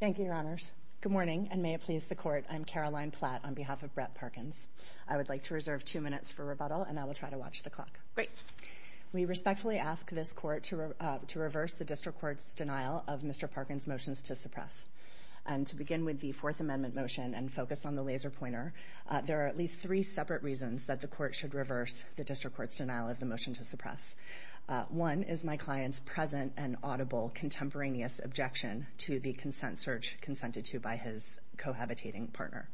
Thank you, Your Honors. Good morning, and may it please the Court, I'm Caroline Platt on behalf of Brett Parkins. I would like to reserve two minutes for rebuttal, and I will try to watch the clock. Great. We respectfully ask this Court to reverse the District Court's denial of Mr. Parkins' motions to suppress. And to begin with the Fourth Amendment motion and focus on the laser pointer, there are at least three separate reasons that the Court should reverse the District Court's denial of the motion to suppress. One is my client's present and audible contemporaneous objection to the consent search consented to by his cohabitating partner.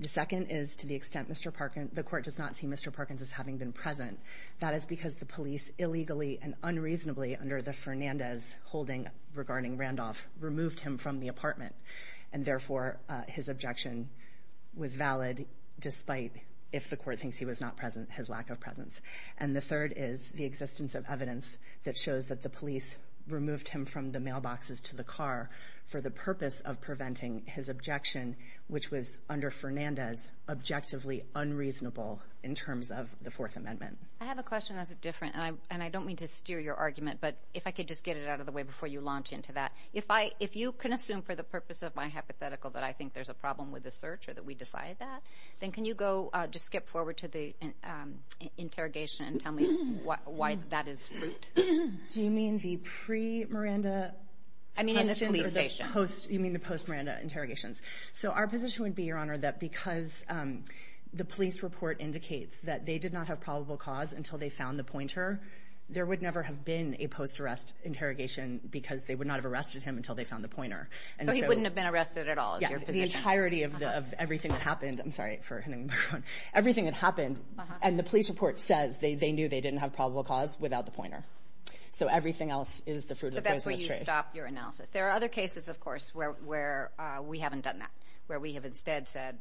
The second is to the extent Mr. Parkins, the Court does not see Mr. Parkins as having been present. That is because the police illegally and unreasonably under the Fernandez holding regarding Randolph removed him from the apartment, and therefore his objection was valid despite, if the Court thinks he was not present, his lack of presence. And the third is the existence of evidence that shows that the police removed him from the mailboxes to the car for the purpose of preventing his objection, which was under Fernandez, objectively unreasonable in terms of the Fourth Amendment. I have a question that's different, and I don't mean to steer your argument, but if I could just get it out of the way before you launch into that. If you can assume for the purpose of my hypothetical that I think there's a problem with the search or that we decide that, then can you go just a step forward to the interrogation and tell me why that is fruit? Do you mean the pre-Miranda? I mean in the police station. You mean the post-Miranda interrogations. So our position would be, Your Honor, that because the police report indicates that they did not have probable cause until they found the pointer, there would never have been a post-arrest interrogation because they would not have arrested him until they found the pointer. So he wouldn't have been arrested at all is your position? Yeah, the entirety of everything that happened. I'm sorry for hitting my phone. Everything that happened, and the police report says they knew they didn't have probable cause without the pointer. So everything else is the fruit of the poisonous tree. But that's where you stop your analysis. There are other cases, of course, where we haven't done that, where we have instead said,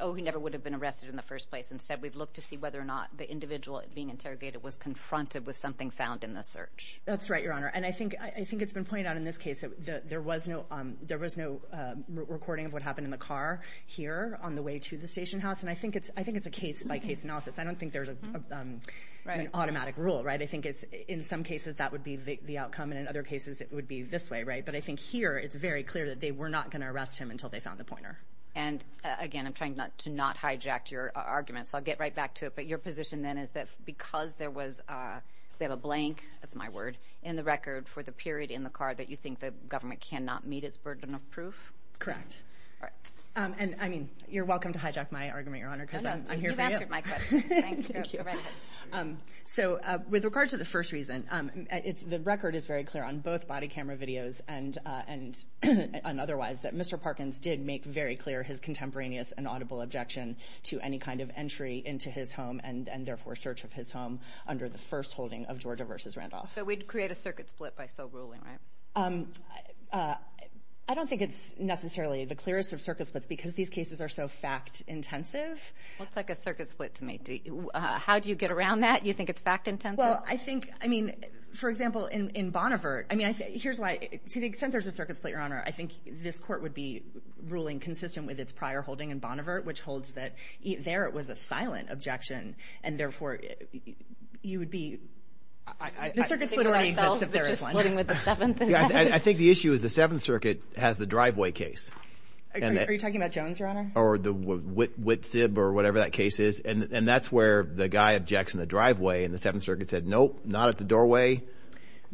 oh, he never would have been arrested in the first place. Instead, we've looked to see whether or not the individual being interrogated was confronted with something found in the search. That's right, Your Honor. And I think it's been pointed out in this case that there was no recording of what happened in the car here on the way to the station house. And I think it's a case-by-case analysis. I don't think there's an automatic rule. I think in some cases that would be the outcome, and in other cases it would be this way. But I think here it's very clear that they were not going to arrest him until they found the pointer. And again, I'm trying to not hijack your argument, so I'll get right back to it. But your position then is that because there was a blank, that's my word, in the record for the period in the car that you think the government cannot meet its burden of proof? Correct. All right. And I mean, you're welcome to hijack my argument, Your Honor, because I'm here for you. No, no, you've answered my question. Thank you. So with regard to the first reason, the record is very clear on both body camera videos and otherwise that Mr. Parkins did make very clear his contemporaneous and audible objection to any kind of entry into his home and therefore search of his home under the first holding of Georgia v. Randolph. So we'd create a circuit split by sole ruling, right? I don't think it's necessarily the clearest of circuit splits because these cases are so fact-intensive. Looks like a circuit split to me. How do you get around that? You think it's fact-intensive? Well, I think, I mean, for example, in Bonnevert, I mean, here's why, to the extent there's a circuit split, Your Honor, I think this court would be ruling consistent with its prior holding in Bonnevert, which holds that there it was a silent objection, and therefore you would be... The circuit split already exists if there is one. I think the issue is the Seventh Circuit has the driveway case. Are you talking about Jones, Your Honor? Or the Witsib or whatever that case is, and that's where the guy objects in the driveway and the Seventh Circuit said, nope, not at the doorway,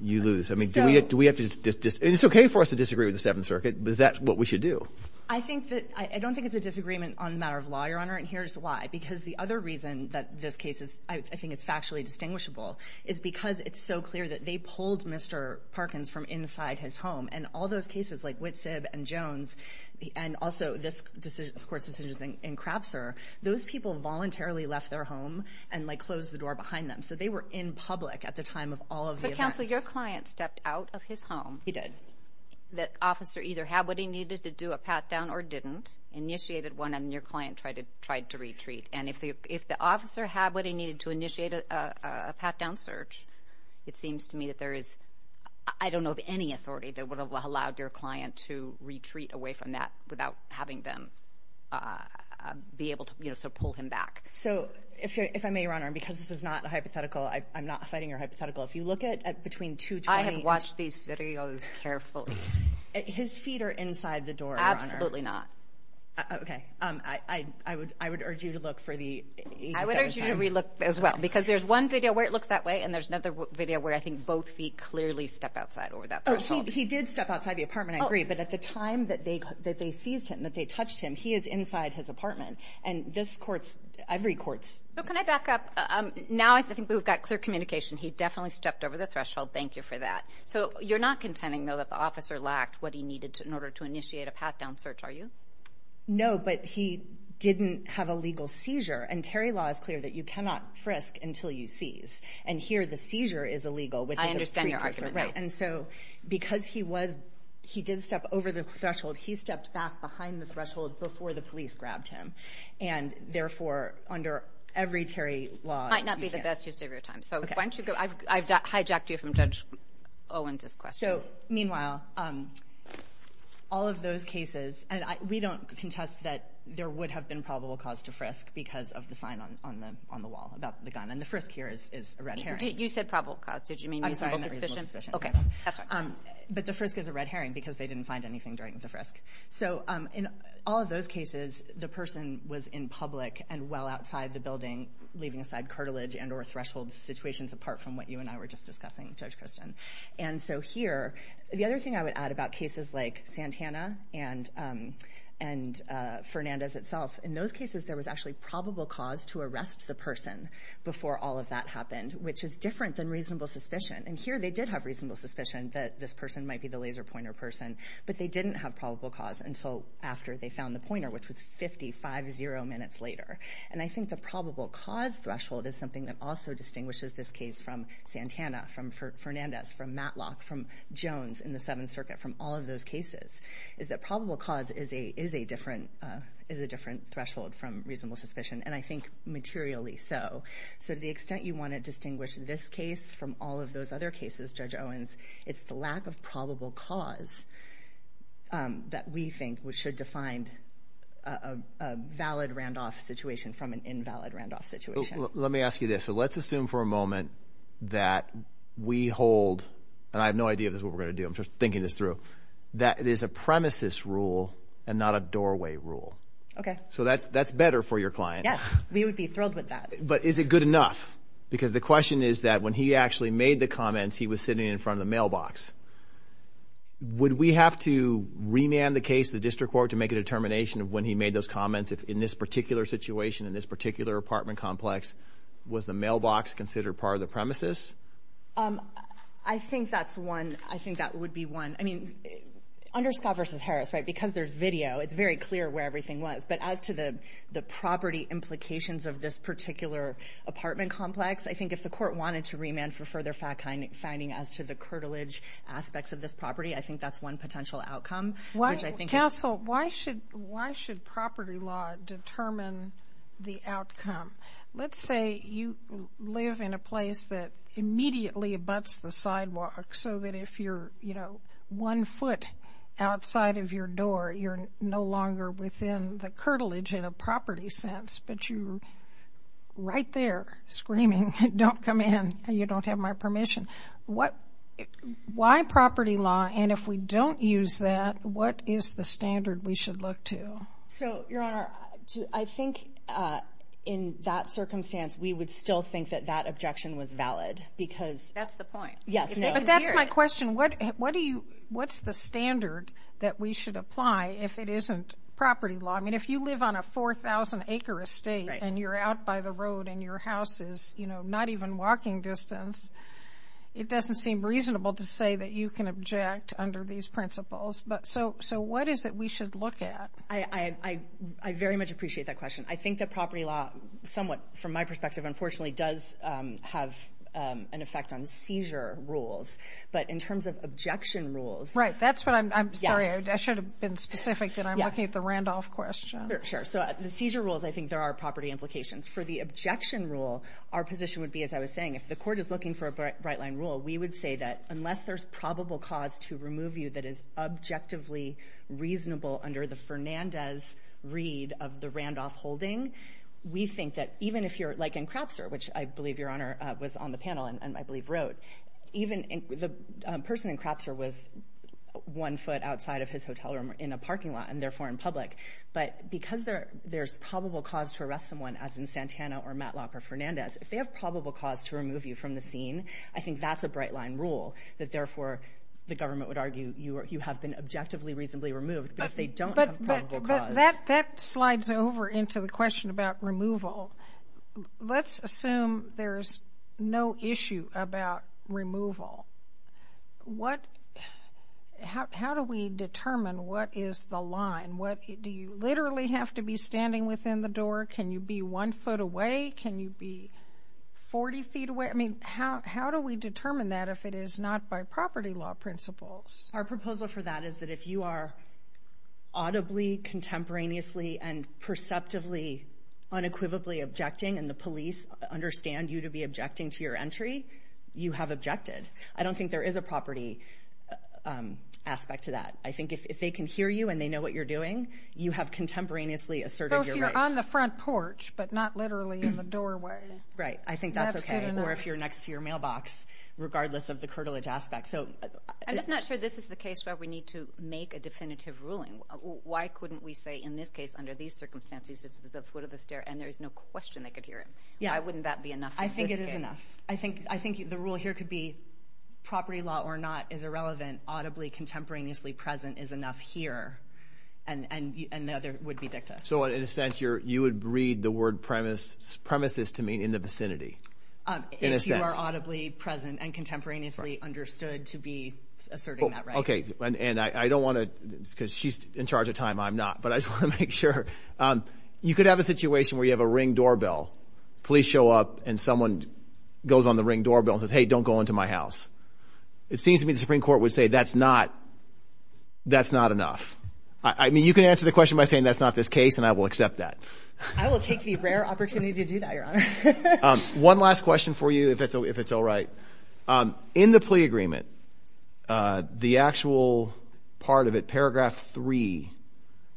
you lose. I mean, do we have to just, it's okay for us to disagree with the Seventh Circuit, but is that what we should do? I think that, I don't think it's a disagreement on a matter of law, Your Honor, and here's why, because the other reason that this case is, I think it's factually distinguishable, is because it's so clear that they pulled Mr. Parkins from inside his home, and all those cases like Witsib and Jones, and also this court's decision in Crapser, those people voluntarily left their home and, like, closed the door behind them, so they were in public at the time of all of the events. But, counsel, your client stepped out of his home. He did. The officer either had what he needed to do, a pat down, or didn't, initiated one, and your client, if the officer had what he needed to initiate a pat down search, it seems to me that there is, I don't know of any authority that would have allowed your client to retreat away from that without having them be able to, you know, sort of pull him back. So, if I may, Your Honor, and because this is not a hypothetical, I'm not fighting your hypothetical, if you look at, between 220- I have watched these videos carefully. His feet are inside the door, Your Honor. Absolutely not. Okay. I would urge you to look for the- I would urge you to re-look as well, because there's one video where it looks that way, and there's another video where I think both feet clearly step outside over that threshold. Oh, he did step outside the apartment, I agree, but at the time that they seized him, that they touched him, he is inside his apartment, and this court's, every court's- So, can I back up? Now I think we've got clear communication. He definitely stepped over the threshold. Thank you for that. So, you're not contending, though, that the officer lacked what he needed in order to initiate a pat-down search, are you? No, but he didn't have a legal seizure, and Terry law is clear that you cannot frisk until you seize, and here the seizure is illegal, which is a- I understand your argument now. Right, and so, because he was, he did step over the threshold, he stepped back behind the threshold before the police grabbed him, and therefore, under every Terry law- Might not be the best use of your time. So, why don't you go- I've hijacked you from Judge Owens's question. So, meanwhile, all of those cases, and we don't contest that there would have been probable cause to frisk because of the sign on the wall about the gun, and the frisk here is a red herring. You said probable cause, did you mean reasonable suspicion? I'm sorry, reasonable suspicion. Okay, that's fine. But the frisk is a red herring because they didn't find anything during the frisk. So, in all of those cases, the person was in public and well outside the building, leaving aside cartilage and or threshold situations apart from what you and I were just discussing, Judge Christin. And so, here, the other thing I would add about cases like Santana and Fernandez itself, in those cases, there was actually probable cause to arrest the person before all of that happened, which is different than reasonable suspicion. And here, they did have reasonable suspicion that this person might be the laser pointer person, but they didn't have probable cause until after they found the pointer, which was 50, five, zero minutes later. And I think the probable cause threshold is something that also distinguishes this case from Santana, from Fernandez, from Matlock, from Jones in the Seventh Circuit, from all of those cases, is that probable cause is a different threshold from reasonable suspicion, and I think materially so. So, to the extent you want to distinguish this case from all of those other cases, Judge Owens, it's the lack of probable cause that we think should define a valid Randolph situation from an invalid Randolph situation. Let me ask you this. So, let's assume for a moment that we hold, and I have no idea if this is what we're going to do, I'm just thinking this through, that it is a premises rule and not a doorway rule. Okay. So, that's better for your client. Yes, we would be thrilled with that. But is it good enough? Because the question is that when he actually made the comments, he was sitting in front of the mailbox. Would we have to remand the case to the district court to make a determination of when he made those comments, if in this particular situation, in this particular apartment complex, was the mailbox considered part of the premises? I think that's one. I think that would be one. I mean, under Scott v. Harris, right, because there's video, it's very clear where everything was. But as to the property implications of this particular apartment complex, I think if the curtilage aspects of this property, I think that's one potential outcome. Counsel, why should property law determine the outcome? Let's say you live in a place that immediately abuts the sidewalk so that if you're one foot outside of your door, you're no longer within the curtilage in a property sense, but you're right there screaming, don't come in, you don't have my permission. Why property law? And if we don't use that, what is the standard we should look to? So, Your Honor, I think in that circumstance, we would still think that that objection was valid because... That's the point. Yes. But that's my question. What's the standard that we should apply if it isn't property law? I mean, if you live on a 4,000-acre estate and you're out by the road and your house is not even walking distance, it doesn't seem reasonable to say that you can object under these principles. So, what is it we should look at? I very much appreciate that question. I think that property law, somewhat from my perspective, unfortunately does have an effect on seizure rules. But in terms of objection rules... Right, that's what I'm... Yes. Sorry, I should have been specific that I'm looking at the Randolph question. Sure. So, the seizure rules, I think there are property implications. For the objection rule, our position would be, as I was saying, if the court is looking for a bright-line rule, we would say that unless there's probable cause to remove you that is objectively reasonable under the Fernandez read of the Randolph holding, we think that even if you're... Like in Crapser, which I believe, Your Honor, was on the panel and I believe wrote, the person in Crapser was one foot outside of his hotel room in a parking lot and therefore in public. But because there's probable cause to arrest someone, as in Santana or Matlock or Fernandez, if they have probable cause to remove you from the scene, I think that's a bright-line rule that therefore the government would argue you have been objectively reasonably removed, but if they don't have probable cause... But that slides over into the question about removal. Let's assume there's no issue about removal. How do we determine what is the line? Do you literally have to be standing within the building? Can you be one foot away? Can you be 40 feet away? How do we determine that if it is not by property law principles? Our proposal for that is that if you are audibly, contemporaneously, and perceptively unequivocally objecting and the police understand you to be objecting to your entry, you have objected. I don't think there is a property aspect to that. I think if they can hear you and they know what you're doing, you have contemporaneously asserted your rights. On the front porch, but not literally in the doorway. Right. I think that's okay. Or if you're next to your mailbox, regardless of the curtilage aspect. I'm just not sure this is the case where we need to make a definitive ruling. Why couldn't we say in this case, under these circumstances, it's the foot of the stair and there's no question they could hear him? Why wouldn't that be enough? I think it is enough. I think the rule here could be property law or not is irrelevant, audibly contemporaneously present is enough here, and the other would be dicta. So in a sense, you would breed the word premises to mean in the vicinity. If you are audibly present and contemporaneously understood to be asserting that right. Okay. And I don't want to, because she's in charge of time, I'm not, but I just want to make sure. You could have a situation where you have a ring doorbell, police show up and someone goes on the ring doorbell and says, hey, don't go into my house. It seems to me the Supreme Court would that's not enough. I mean, you can answer the question by saying that's not this case, and I will accept that. I will take the rare opportunity to do that, Your Honor. One last question for you, if it's all right. In the plea agreement, the actual part of it, paragraph three,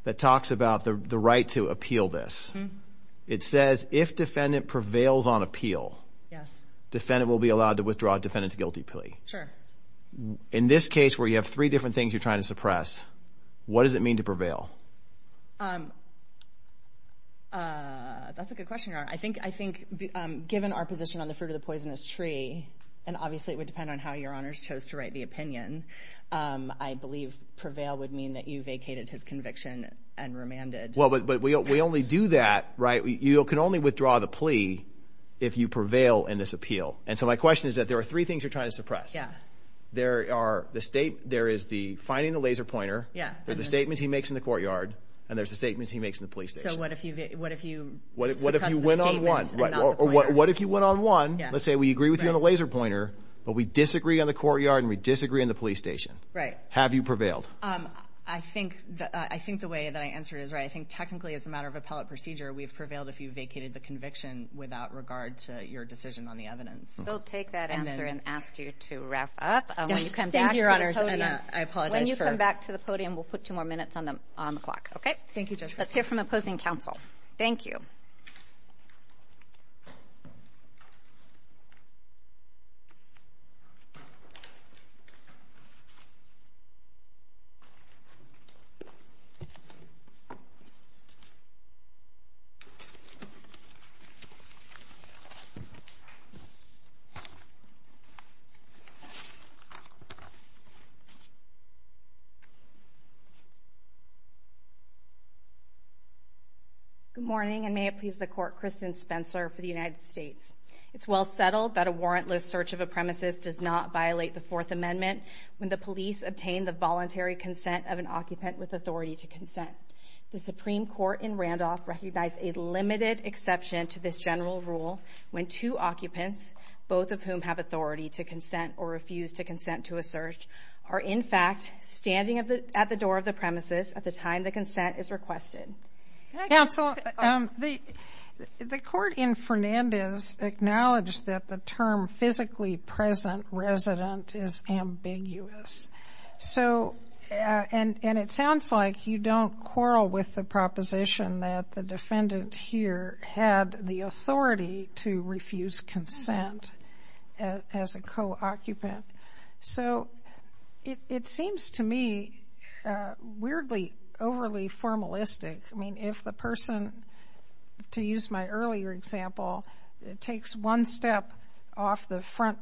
that talks about the right to appeal this. It says if defendant prevails on appeal, defendant will be allowed to withdraw defendant's guilty plea. Sure. In this case where you have three different things you're trying to suppress, what does it mean to prevail? That's a good question, Your Honor. I think given our position on the fruit of the poisonous tree, and obviously it would depend on how Your Honors chose to write the opinion, I believe prevail would mean that you vacated his conviction and remanded. Well, but we only do that, right? You can only withdraw the plea if you prevail in this appeal. And so my question is that there are three things you're trying to suppress. There is the finding the laser pointer, there's the statements he makes in the courtyard, and there's the statements he makes in the police station. So what if you success the statements and not the pointer? What if you win on one? Let's say we agree with you on the laser pointer, but we disagree on the courtyard and we disagree on the police station. Right. Have you prevailed? I think the way that I answered is right. I think technically as a matter of appellate procedure, we've prevailed if you vacated the conviction without regard to your decision on the evidence. We'll take that answer and ask you to wrap up. Yes, thank you, Your Honors, and I apologize for... When you come back to the podium, we'll put two more minutes on the clock, okay? Thank you, Judge. Let's hear from opposing counsel. Thank you. Good morning, and may it please the Court, Kristen Spencer for the United States. It's well settled that a warrantless search of a premises does not violate the Fourth Amendment when the police obtain the voluntary consent of an occupant with authority to consent. The Supreme Court in Randolph recognized a limited exception to this general rule when two occupants, both of whom have authority to consent or refuse to consent to a search, are in fact standing at the door of the premises at the time the consent is requested. Counsel, the court in Fernandez acknowledged that the term physically present resident is ambiguous, and it sounds like you don't quarrel with the proposition that the defendant here had the authority to refuse consent as a co-occupant. So it seems to me weirdly, overly formalistic. I mean, if the person, to use my earlier example, takes one step off the front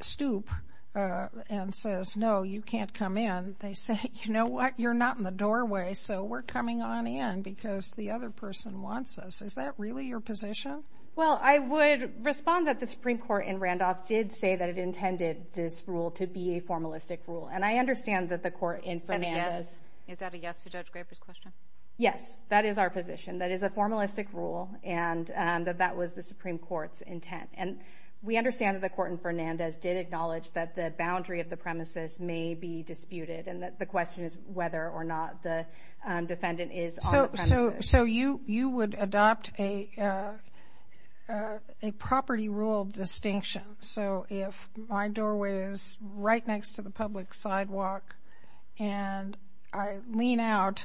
stoop and says, no, you can't come in, they say, you know what? You're not in the doorway, so we're coming on in because the other person wants us. Is that really your position? Well, I would respond that the Supreme Court in Randolph did say that it intended this rule to be a formalistic rule, and I understand that the court in Fernandez... Is that a yes to Judge Graber's question? Yes, that is our position. That is a formalistic rule, and that that was the Supreme Court's intent. And we understand that the court in Fernandez did acknowledge that the boundary of the premises may be disputed, and that the question is whether or not the defendant is on the premises. So you would adopt a property rule distinction. So if my doorway is right next to the public sidewalk and I lean out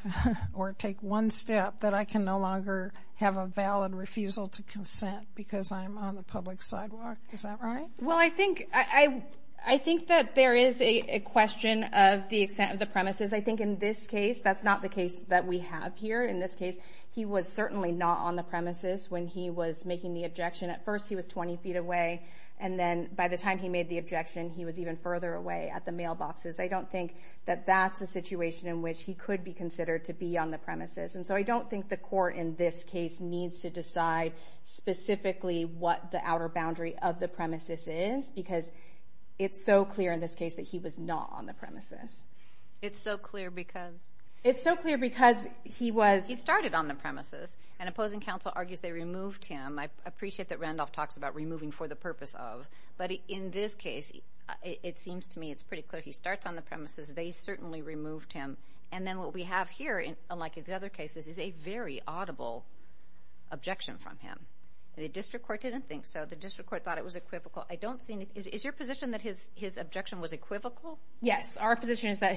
or take one step, that I can no longer have a valid refusal to consent because I'm on the public sidewalk. Is that right? Well, I think that there is a question of the extent of the premises. I think in this case, that's not the case that we have here. In this case, he was certainly not on the premises when he was making the objection. At first, he was 20 feet away, and then by the time he made the objection, he was even further away at the mailboxes. I don't think that that's a situation in which he could be considered to be on the premises. And so I don't think the court in this case needs to decide specifically what the outer boundary of the premises is because it's so clear in this case that he was not on the premises. It's so clear because? It's so clear because he was... He started on the premises, and opposing counsel argues they removed him. I appreciate that Randolph talks about removing for the purpose of, but in this case, it seems to me it's pretty clear he starts on the premises. They certainly removed him. And then what we have here, unlike the other cases, is a very audible objection from him. The district court didn't think so. The district court thought it was equivocal. I don't see any... Is your position that his objection was equivocal? Yes. Our position is that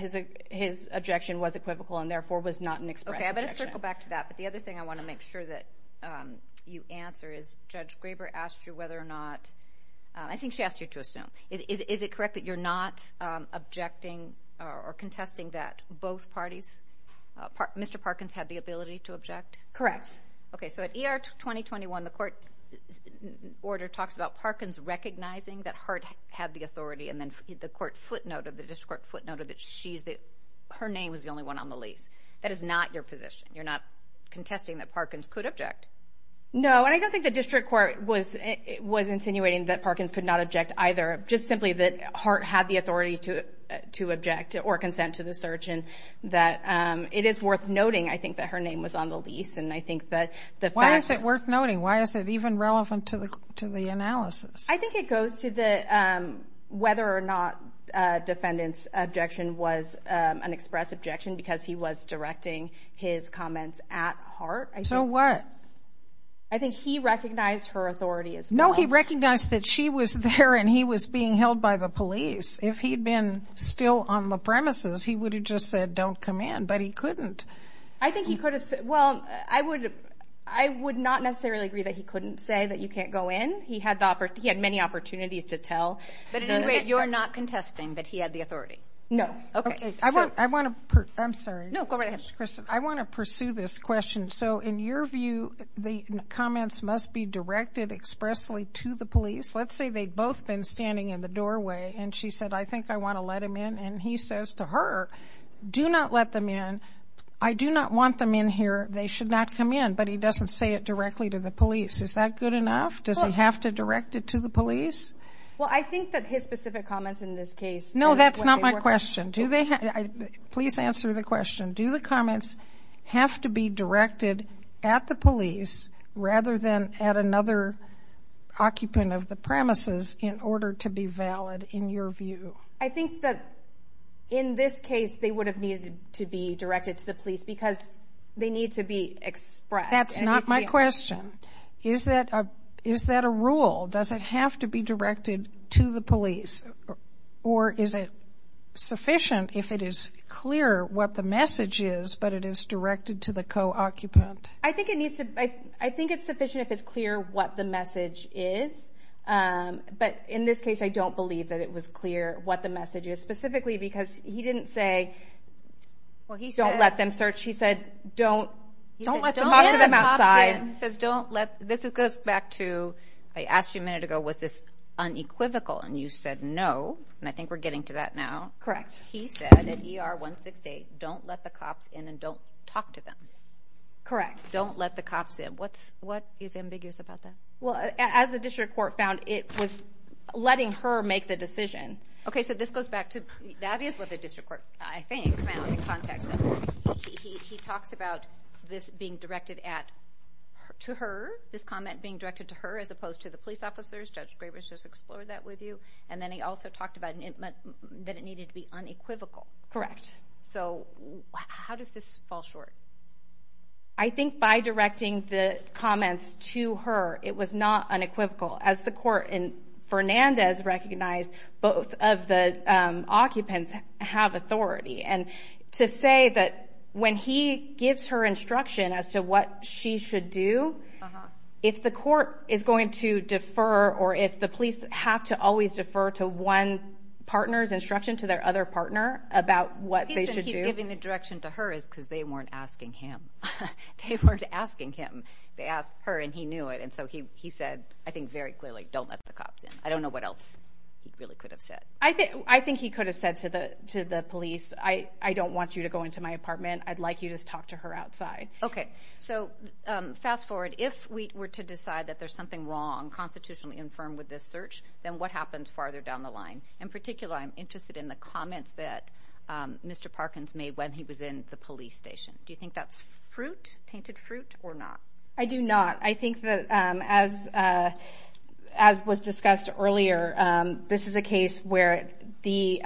his objection was equivocal and therefore was not an express objection. Okay. I'm going to circle back to that. But the other thing I want to make sure that you answer is, Judge Graber asked you whether or not... I think she asked you to assume. Is it correct that you're not objecting or contesting that both parties... Mr. Parkins had the ability to object? Correct. Okay. So at ER 2021, the court order talks about Parkins recognizing that Hart had the authority, and then the court footnote or the district court footnote that her name was the only one on the lease. That is not your position. You're not contesting that Parkins could object. No. And I don't think the district court was insinuating that Parkins could not object either. Just simply that Hart had the authority to object or consent to the search. And that it is worth noting, I think, that her name was on the lease. And I think that the fact... Why is it worth noting? Why is it even relevant to the analysis? I think it goes to whether or not a defendant's objection was an express objection, because he was directing his comments at Hart. So what? I think he recognized her authority as well. No, he recognized that she was there and he was being held by the police. If he'd been still on the premises, he would have just said, don't come in. But he couldn't. I think he could have... Well, I would not necessarily agree that he couldn't say that you can't go in. He had many opportunities to tell. But anyway, you're not contesting that he had the authority? No. Okay. I want to... I'm sorry. No, go right ahead. Kristen, I want to pursue this question. So in your view, the comments must be directed expressly to the police. Let's say they'd both been standing in the doorway and she said, I think I want to let him in. And he says to her, do not let them in. I do not want them in here. They should not come in. But he doesn't say it directly to the police. Is that good enough? Does he have to direct it to the police? Well, I think that his specific comments in this case... No, that's not my question. Please answer the question. Do the comments have to be directed at the police rather than at another occupant of the premises in order to be valid in your view? I think that in this case, they would have needed to be directed to the police because they need to be expressed. That's not my question. Is that a rule? Does it have to be directed to the police? Or is it sufficient if it is clear what the message is, but it is directed to the co-occupant? I think it's sufficient if it's clear what the message is. But in this case, I don't believe that it was clear what the message is specifically because he didn't say, don't let them search. He said, don't let them outside. He says, don't let... This goes back to, I asked you a minute ago, was this unequivocal? And you said no. And I think we're getting to that now. Correct. He said at ER 168, don't let the cops in and don't talk to them. Correct. Don't let the cops in. What is ambiguous about that? Well, as the district court found, it was letting her make the decision. Okay, so this goes back to... That is what the district court, I think, found in context. He talks about this being directed to her, this comment being directed to her as opposed to the police officers. Judge Graves just explored that with you. And then he also talked about that it needed to be unequivocal. Correct. So how does this fall short? I think by directing the comments to her, it was not unequivocal. As the court in Fernandez recognized, both of the occupants have authority. And to say that when he gives her instruction as to what she should do, if the court is going to defer or if the police have to always defer to one partner's instruction, to their other partner about what they should do... He's giving the direction to her is because they weren't asking him. They weren't asking him. They asked her and he knew it. And so he said, I think very clearly, don't let the cops in. I don't know what else he really could have said. I think he could have said to the police, I don't want you to go into my apartment. I'd like you to talk to her outside. Okay. So fast forward, if we were to decide that there's something wrong constitutionally infirmed with this search, then what happens farther down the line? In particular, I'm interested in the comments that Mr. Parkins made when he was in the police station. Do you think that's fruit, tainted fruit or not? I do not. I think that as was discussed earlier, this is a case where the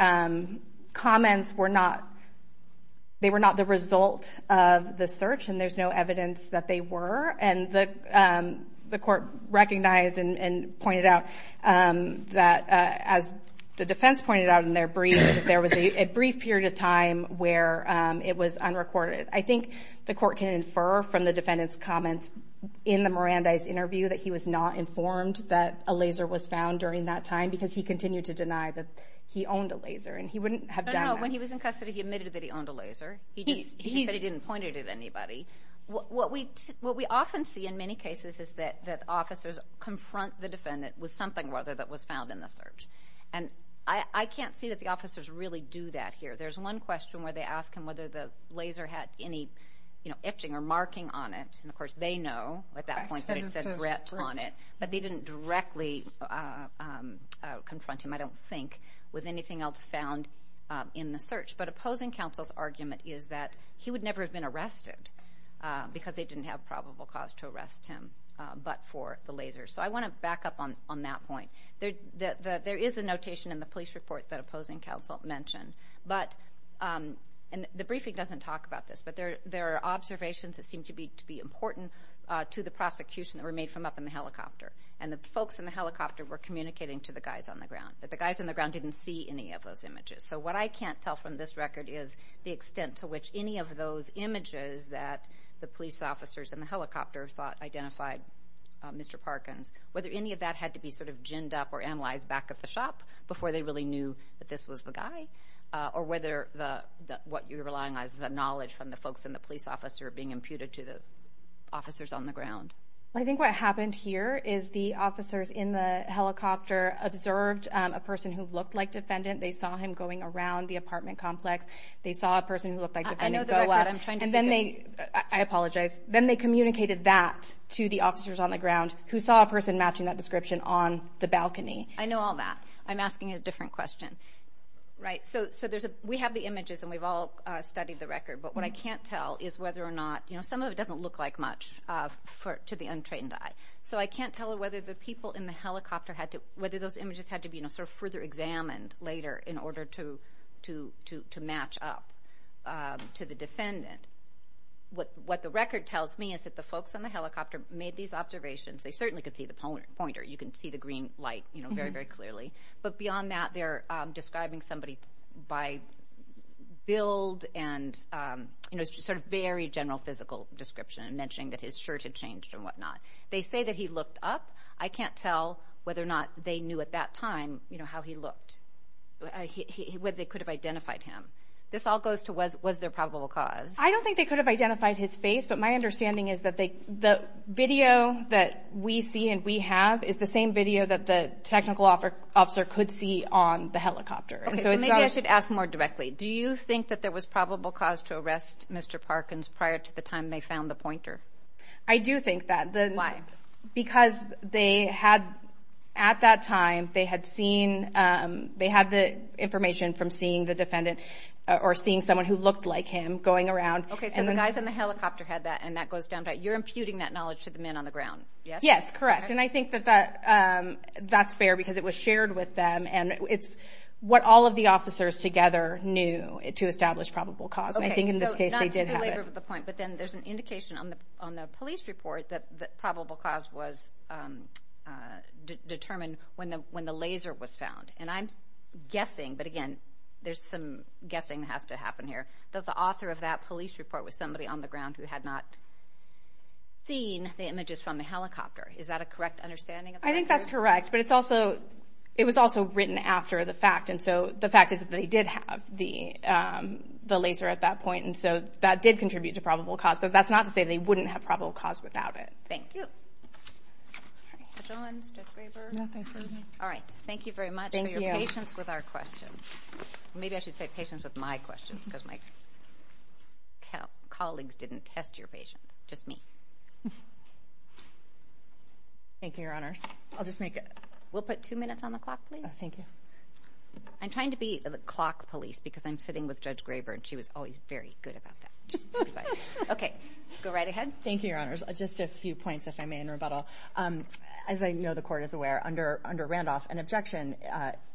comments were not... They were not the result of the search and there's no evidence that they were. And the court recognized and pointed out that as the defense pointed out in their brief, that there was a brief period of time where it was unrecorded. I think the court can infer from the defendant's comments in the Mirandais interview that he was not informed that a laser was found during that time because he continued to deny that he owned a laser and he wouldn't have done that. When he was in custody, he admitted that he owned a laser. He just said he didn't point it at anybody. What we often see in many cases is that officers confront the defendant with something rather that was found in the search. And I can't see that the officers really do that here. There's one question where they ask him whether the laser had any etching or marking on it. And of course, they know at that point that it said RET on it, but they didn't directly confront him, I don't think, with anything else found in the search. But opposing counsel's argument is that he would never have been arrested because they didn't have probable cause to arrest him but for the laser. So I want to back up on that point. There is a notation in the police report that opposing counsel mentioned. But, and the briefing doesn't talk about this, but there are observations that seem to be important to the prosecution that were made from up in the helicopter. And the folks in the helicopter were communicating to the guys on the ground. But the guys on the ground didn't see any of those images. So what I can't tell from this record is the extent to which any of those images that the police officers in the helicopter thought identified Mr. Parkins, whether any of that had to be sort of ginned up or analyzed back at the shop before they really knew that this was the guy, or whether the, what you're relying on is the knowledge from the folks in the police officer being imputed to the officers on the ground. I think what happened here is the officers in the helicopter observed a person who looked like defendant. They saw him going around the apartment complex. They saw a person who looked like defendant go up and then they, I apologize, then they communicated that to the officers on the ground who saw a person matching that description on the balcony. I know all that. I'm asking a different question. Right. So there's a, we have the images and we've all studied the record, but what I can't tell is whether or not, you know, some of it doesn't look like much to the untrained eye. So I can't tell whether the people in the helicopter had to, whether those images had to be, you know, sort of further examined later in order to match up to the defendant. What the record tells me is that the folks on the helicopter made these observations. They certainly could see the pointer. You can see the green light, you know, very, very clearly. But beyond that, they're describing somebody by build and, you know, sort of very general physical description and mentioning that his shirt had changed and whatnot. They say that he looked up. I can't tell whether or not they knew at that time, you know, how he looked, whether they could have identified him. This all goes to was, was there probable cause? I don't think they could have identified his face, but my understanding is that they, the that we see and we have is the same video that the technical officer could see on the helicopter. And so maybe I should ask more directly. Do you think that there was probable cause to arrest Mr. Parkins prior to the time they found the pointer? I do think that. Because they had, at that time, they had seen, they had the information from seeing the defendant or seeing someone who looked like him going around. Okay. So the guys in the helicopter had that and that goes down to, you're imputing that knowledge to the men on the ground, yes? Yes, correct. And I think that that, that's fair because it was shared with them and it's what all of the officers together knew to establish probable cause. And I think in this case they did have it. Okay, so not to belabor the point, but then there's an indication on the, on the police report that, that probable cause was determined when the, when the laser was found. And I'm guessing, but again, there's some guessing that has to happen here, that the image is from the helicopter. Is that a correct understanding? I think that's correct, but it's also, it was also written after the fact. And so the fact is that they did have the, the laser at that point. And so that did contribute to probable cause, but that's not to say they wouldn't have probable cause without it. Thank you. All right. Thank you very much for your patience with our questions. Maybe I should say patience with my questions because my colleagues didn't test your patient, just me. Thank you, Your Honors. I'll just make it. We'll put two minutes on the clock, please. Thank you. I'm trying to be the clock police because I'm sitting with Judge Graber and she was always very good about that. Okay, go right ahead. Thank you, Your Honors. Just a few points, if I may, in rebuttal. As I know the court is aware under, under Randolph, an objection,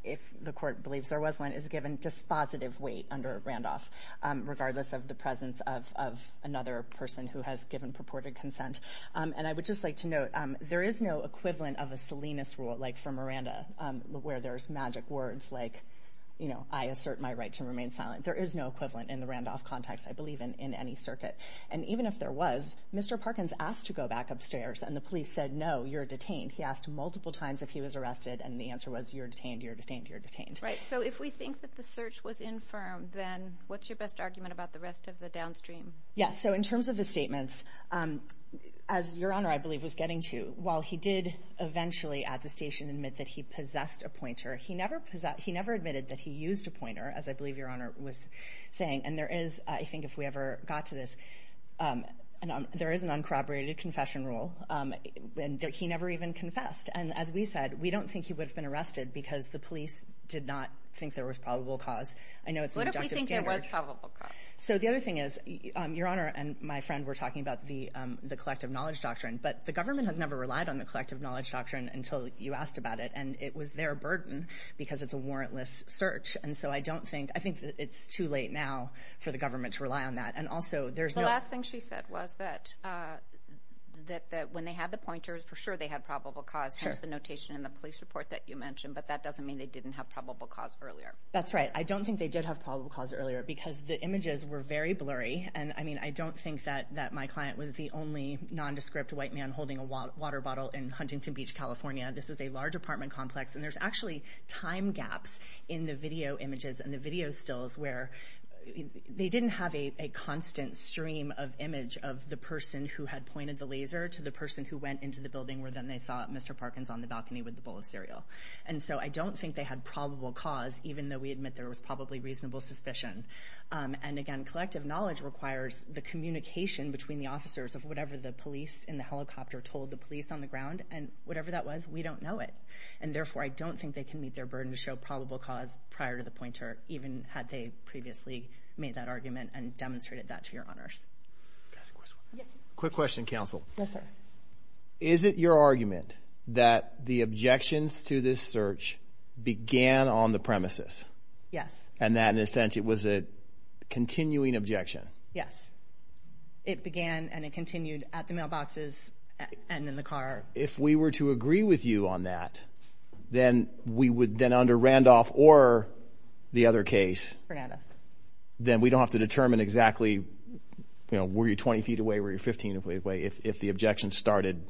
if the court believes there was one, is given dispositive weight under Randolph, regardless of the presence of, of another person who has given purported consent. And I would just like to note, there is no equivalent of a Salinas rule, like for Miranda, where there's magic words like, you know, I assert my right to remain silent. There is no equivalent in the Randolph context, I believe, in any circuit. And even if there was, Mr. Parkins asked to go back upstairs and the police said, no, you're detained. He asked multiple times if he was arrested and the answer was, you're detained, you're detained, you're detained. Right. So if we think that the search was infirm, then what's your best argument about the rest of the downstream? Yes. So in terms of the statements, as Your Honor, I believe was getting to, while he did eventually at the station admit that he possessed a pointer, he never possessed, he never admitted that he used a pointer, as I believe Your Honor was saying. And there is, I think if we ever got to this, there is an uncorroborated confession rule and he never even confessed. And as we said, we don't think he would have been arrested because the police did not think there was probable cause. I know it's an objective standard. What if we think there was probable cause? So the other thing is, Your Honor and my friend were talking about the collective knowledge doctrine, but the government has never relied on the collective knowledge doctrine until you asked about it. And it was their burden because it's a warrantless search. And so I don't think, I think it's too late now for the government to rely on that. And also there's no- The last thing she said was that when they had the pointer, for sure they had probable cause, hence the notation in the police report that you mentioned, but that doesn't mean they didn't have probable cause earlier. That's right. I don't think they did have probable cause earlier because the images were very blurry. And I mean, I don't think that my client was the only nondescript white man holding a water bottle in Huntington Beach, California. This is a large apartment complex and there's actually time gaps in the video images and the video stills where they didn't have a constant stream of image of the person who had pointed the laser to the person who went into the building where then they saw Mr. Parkins on the balcony with the bowl of cereal. And so I don't think they had probable cause, even though we admit there was probably reasonable suspicion. And again, collective knowledge requires the communication between the officers of whatever the police in the helicopter told the police on the ground and whatever that was, we don't know it. And therefore, I don't think they can meet their burden to show probable cause prior to the pointer, even had they previously made that argument and demonstrated that to your honors. Quick question, counsel. Yes, sir. Is it your argument that the objections to this search began on the premises? Yes. And that in a sense, it was a continuing objection? Yes. It began and it continued at the mailboxes and in the car. If we were to agree with you on that, then we would then under Randolph or the other case, then we don't have to determine exactly, you know, were you 20 feet away, were you 15 feet away if the objection started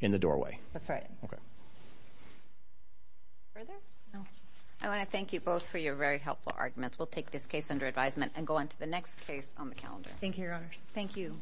in the doorway? That's right. Okay. Further? I want to thank you both for your very helpful arguments. We'll take this case under advisement and go on to the next case on the calendar. Thank you, your honors. Thank you.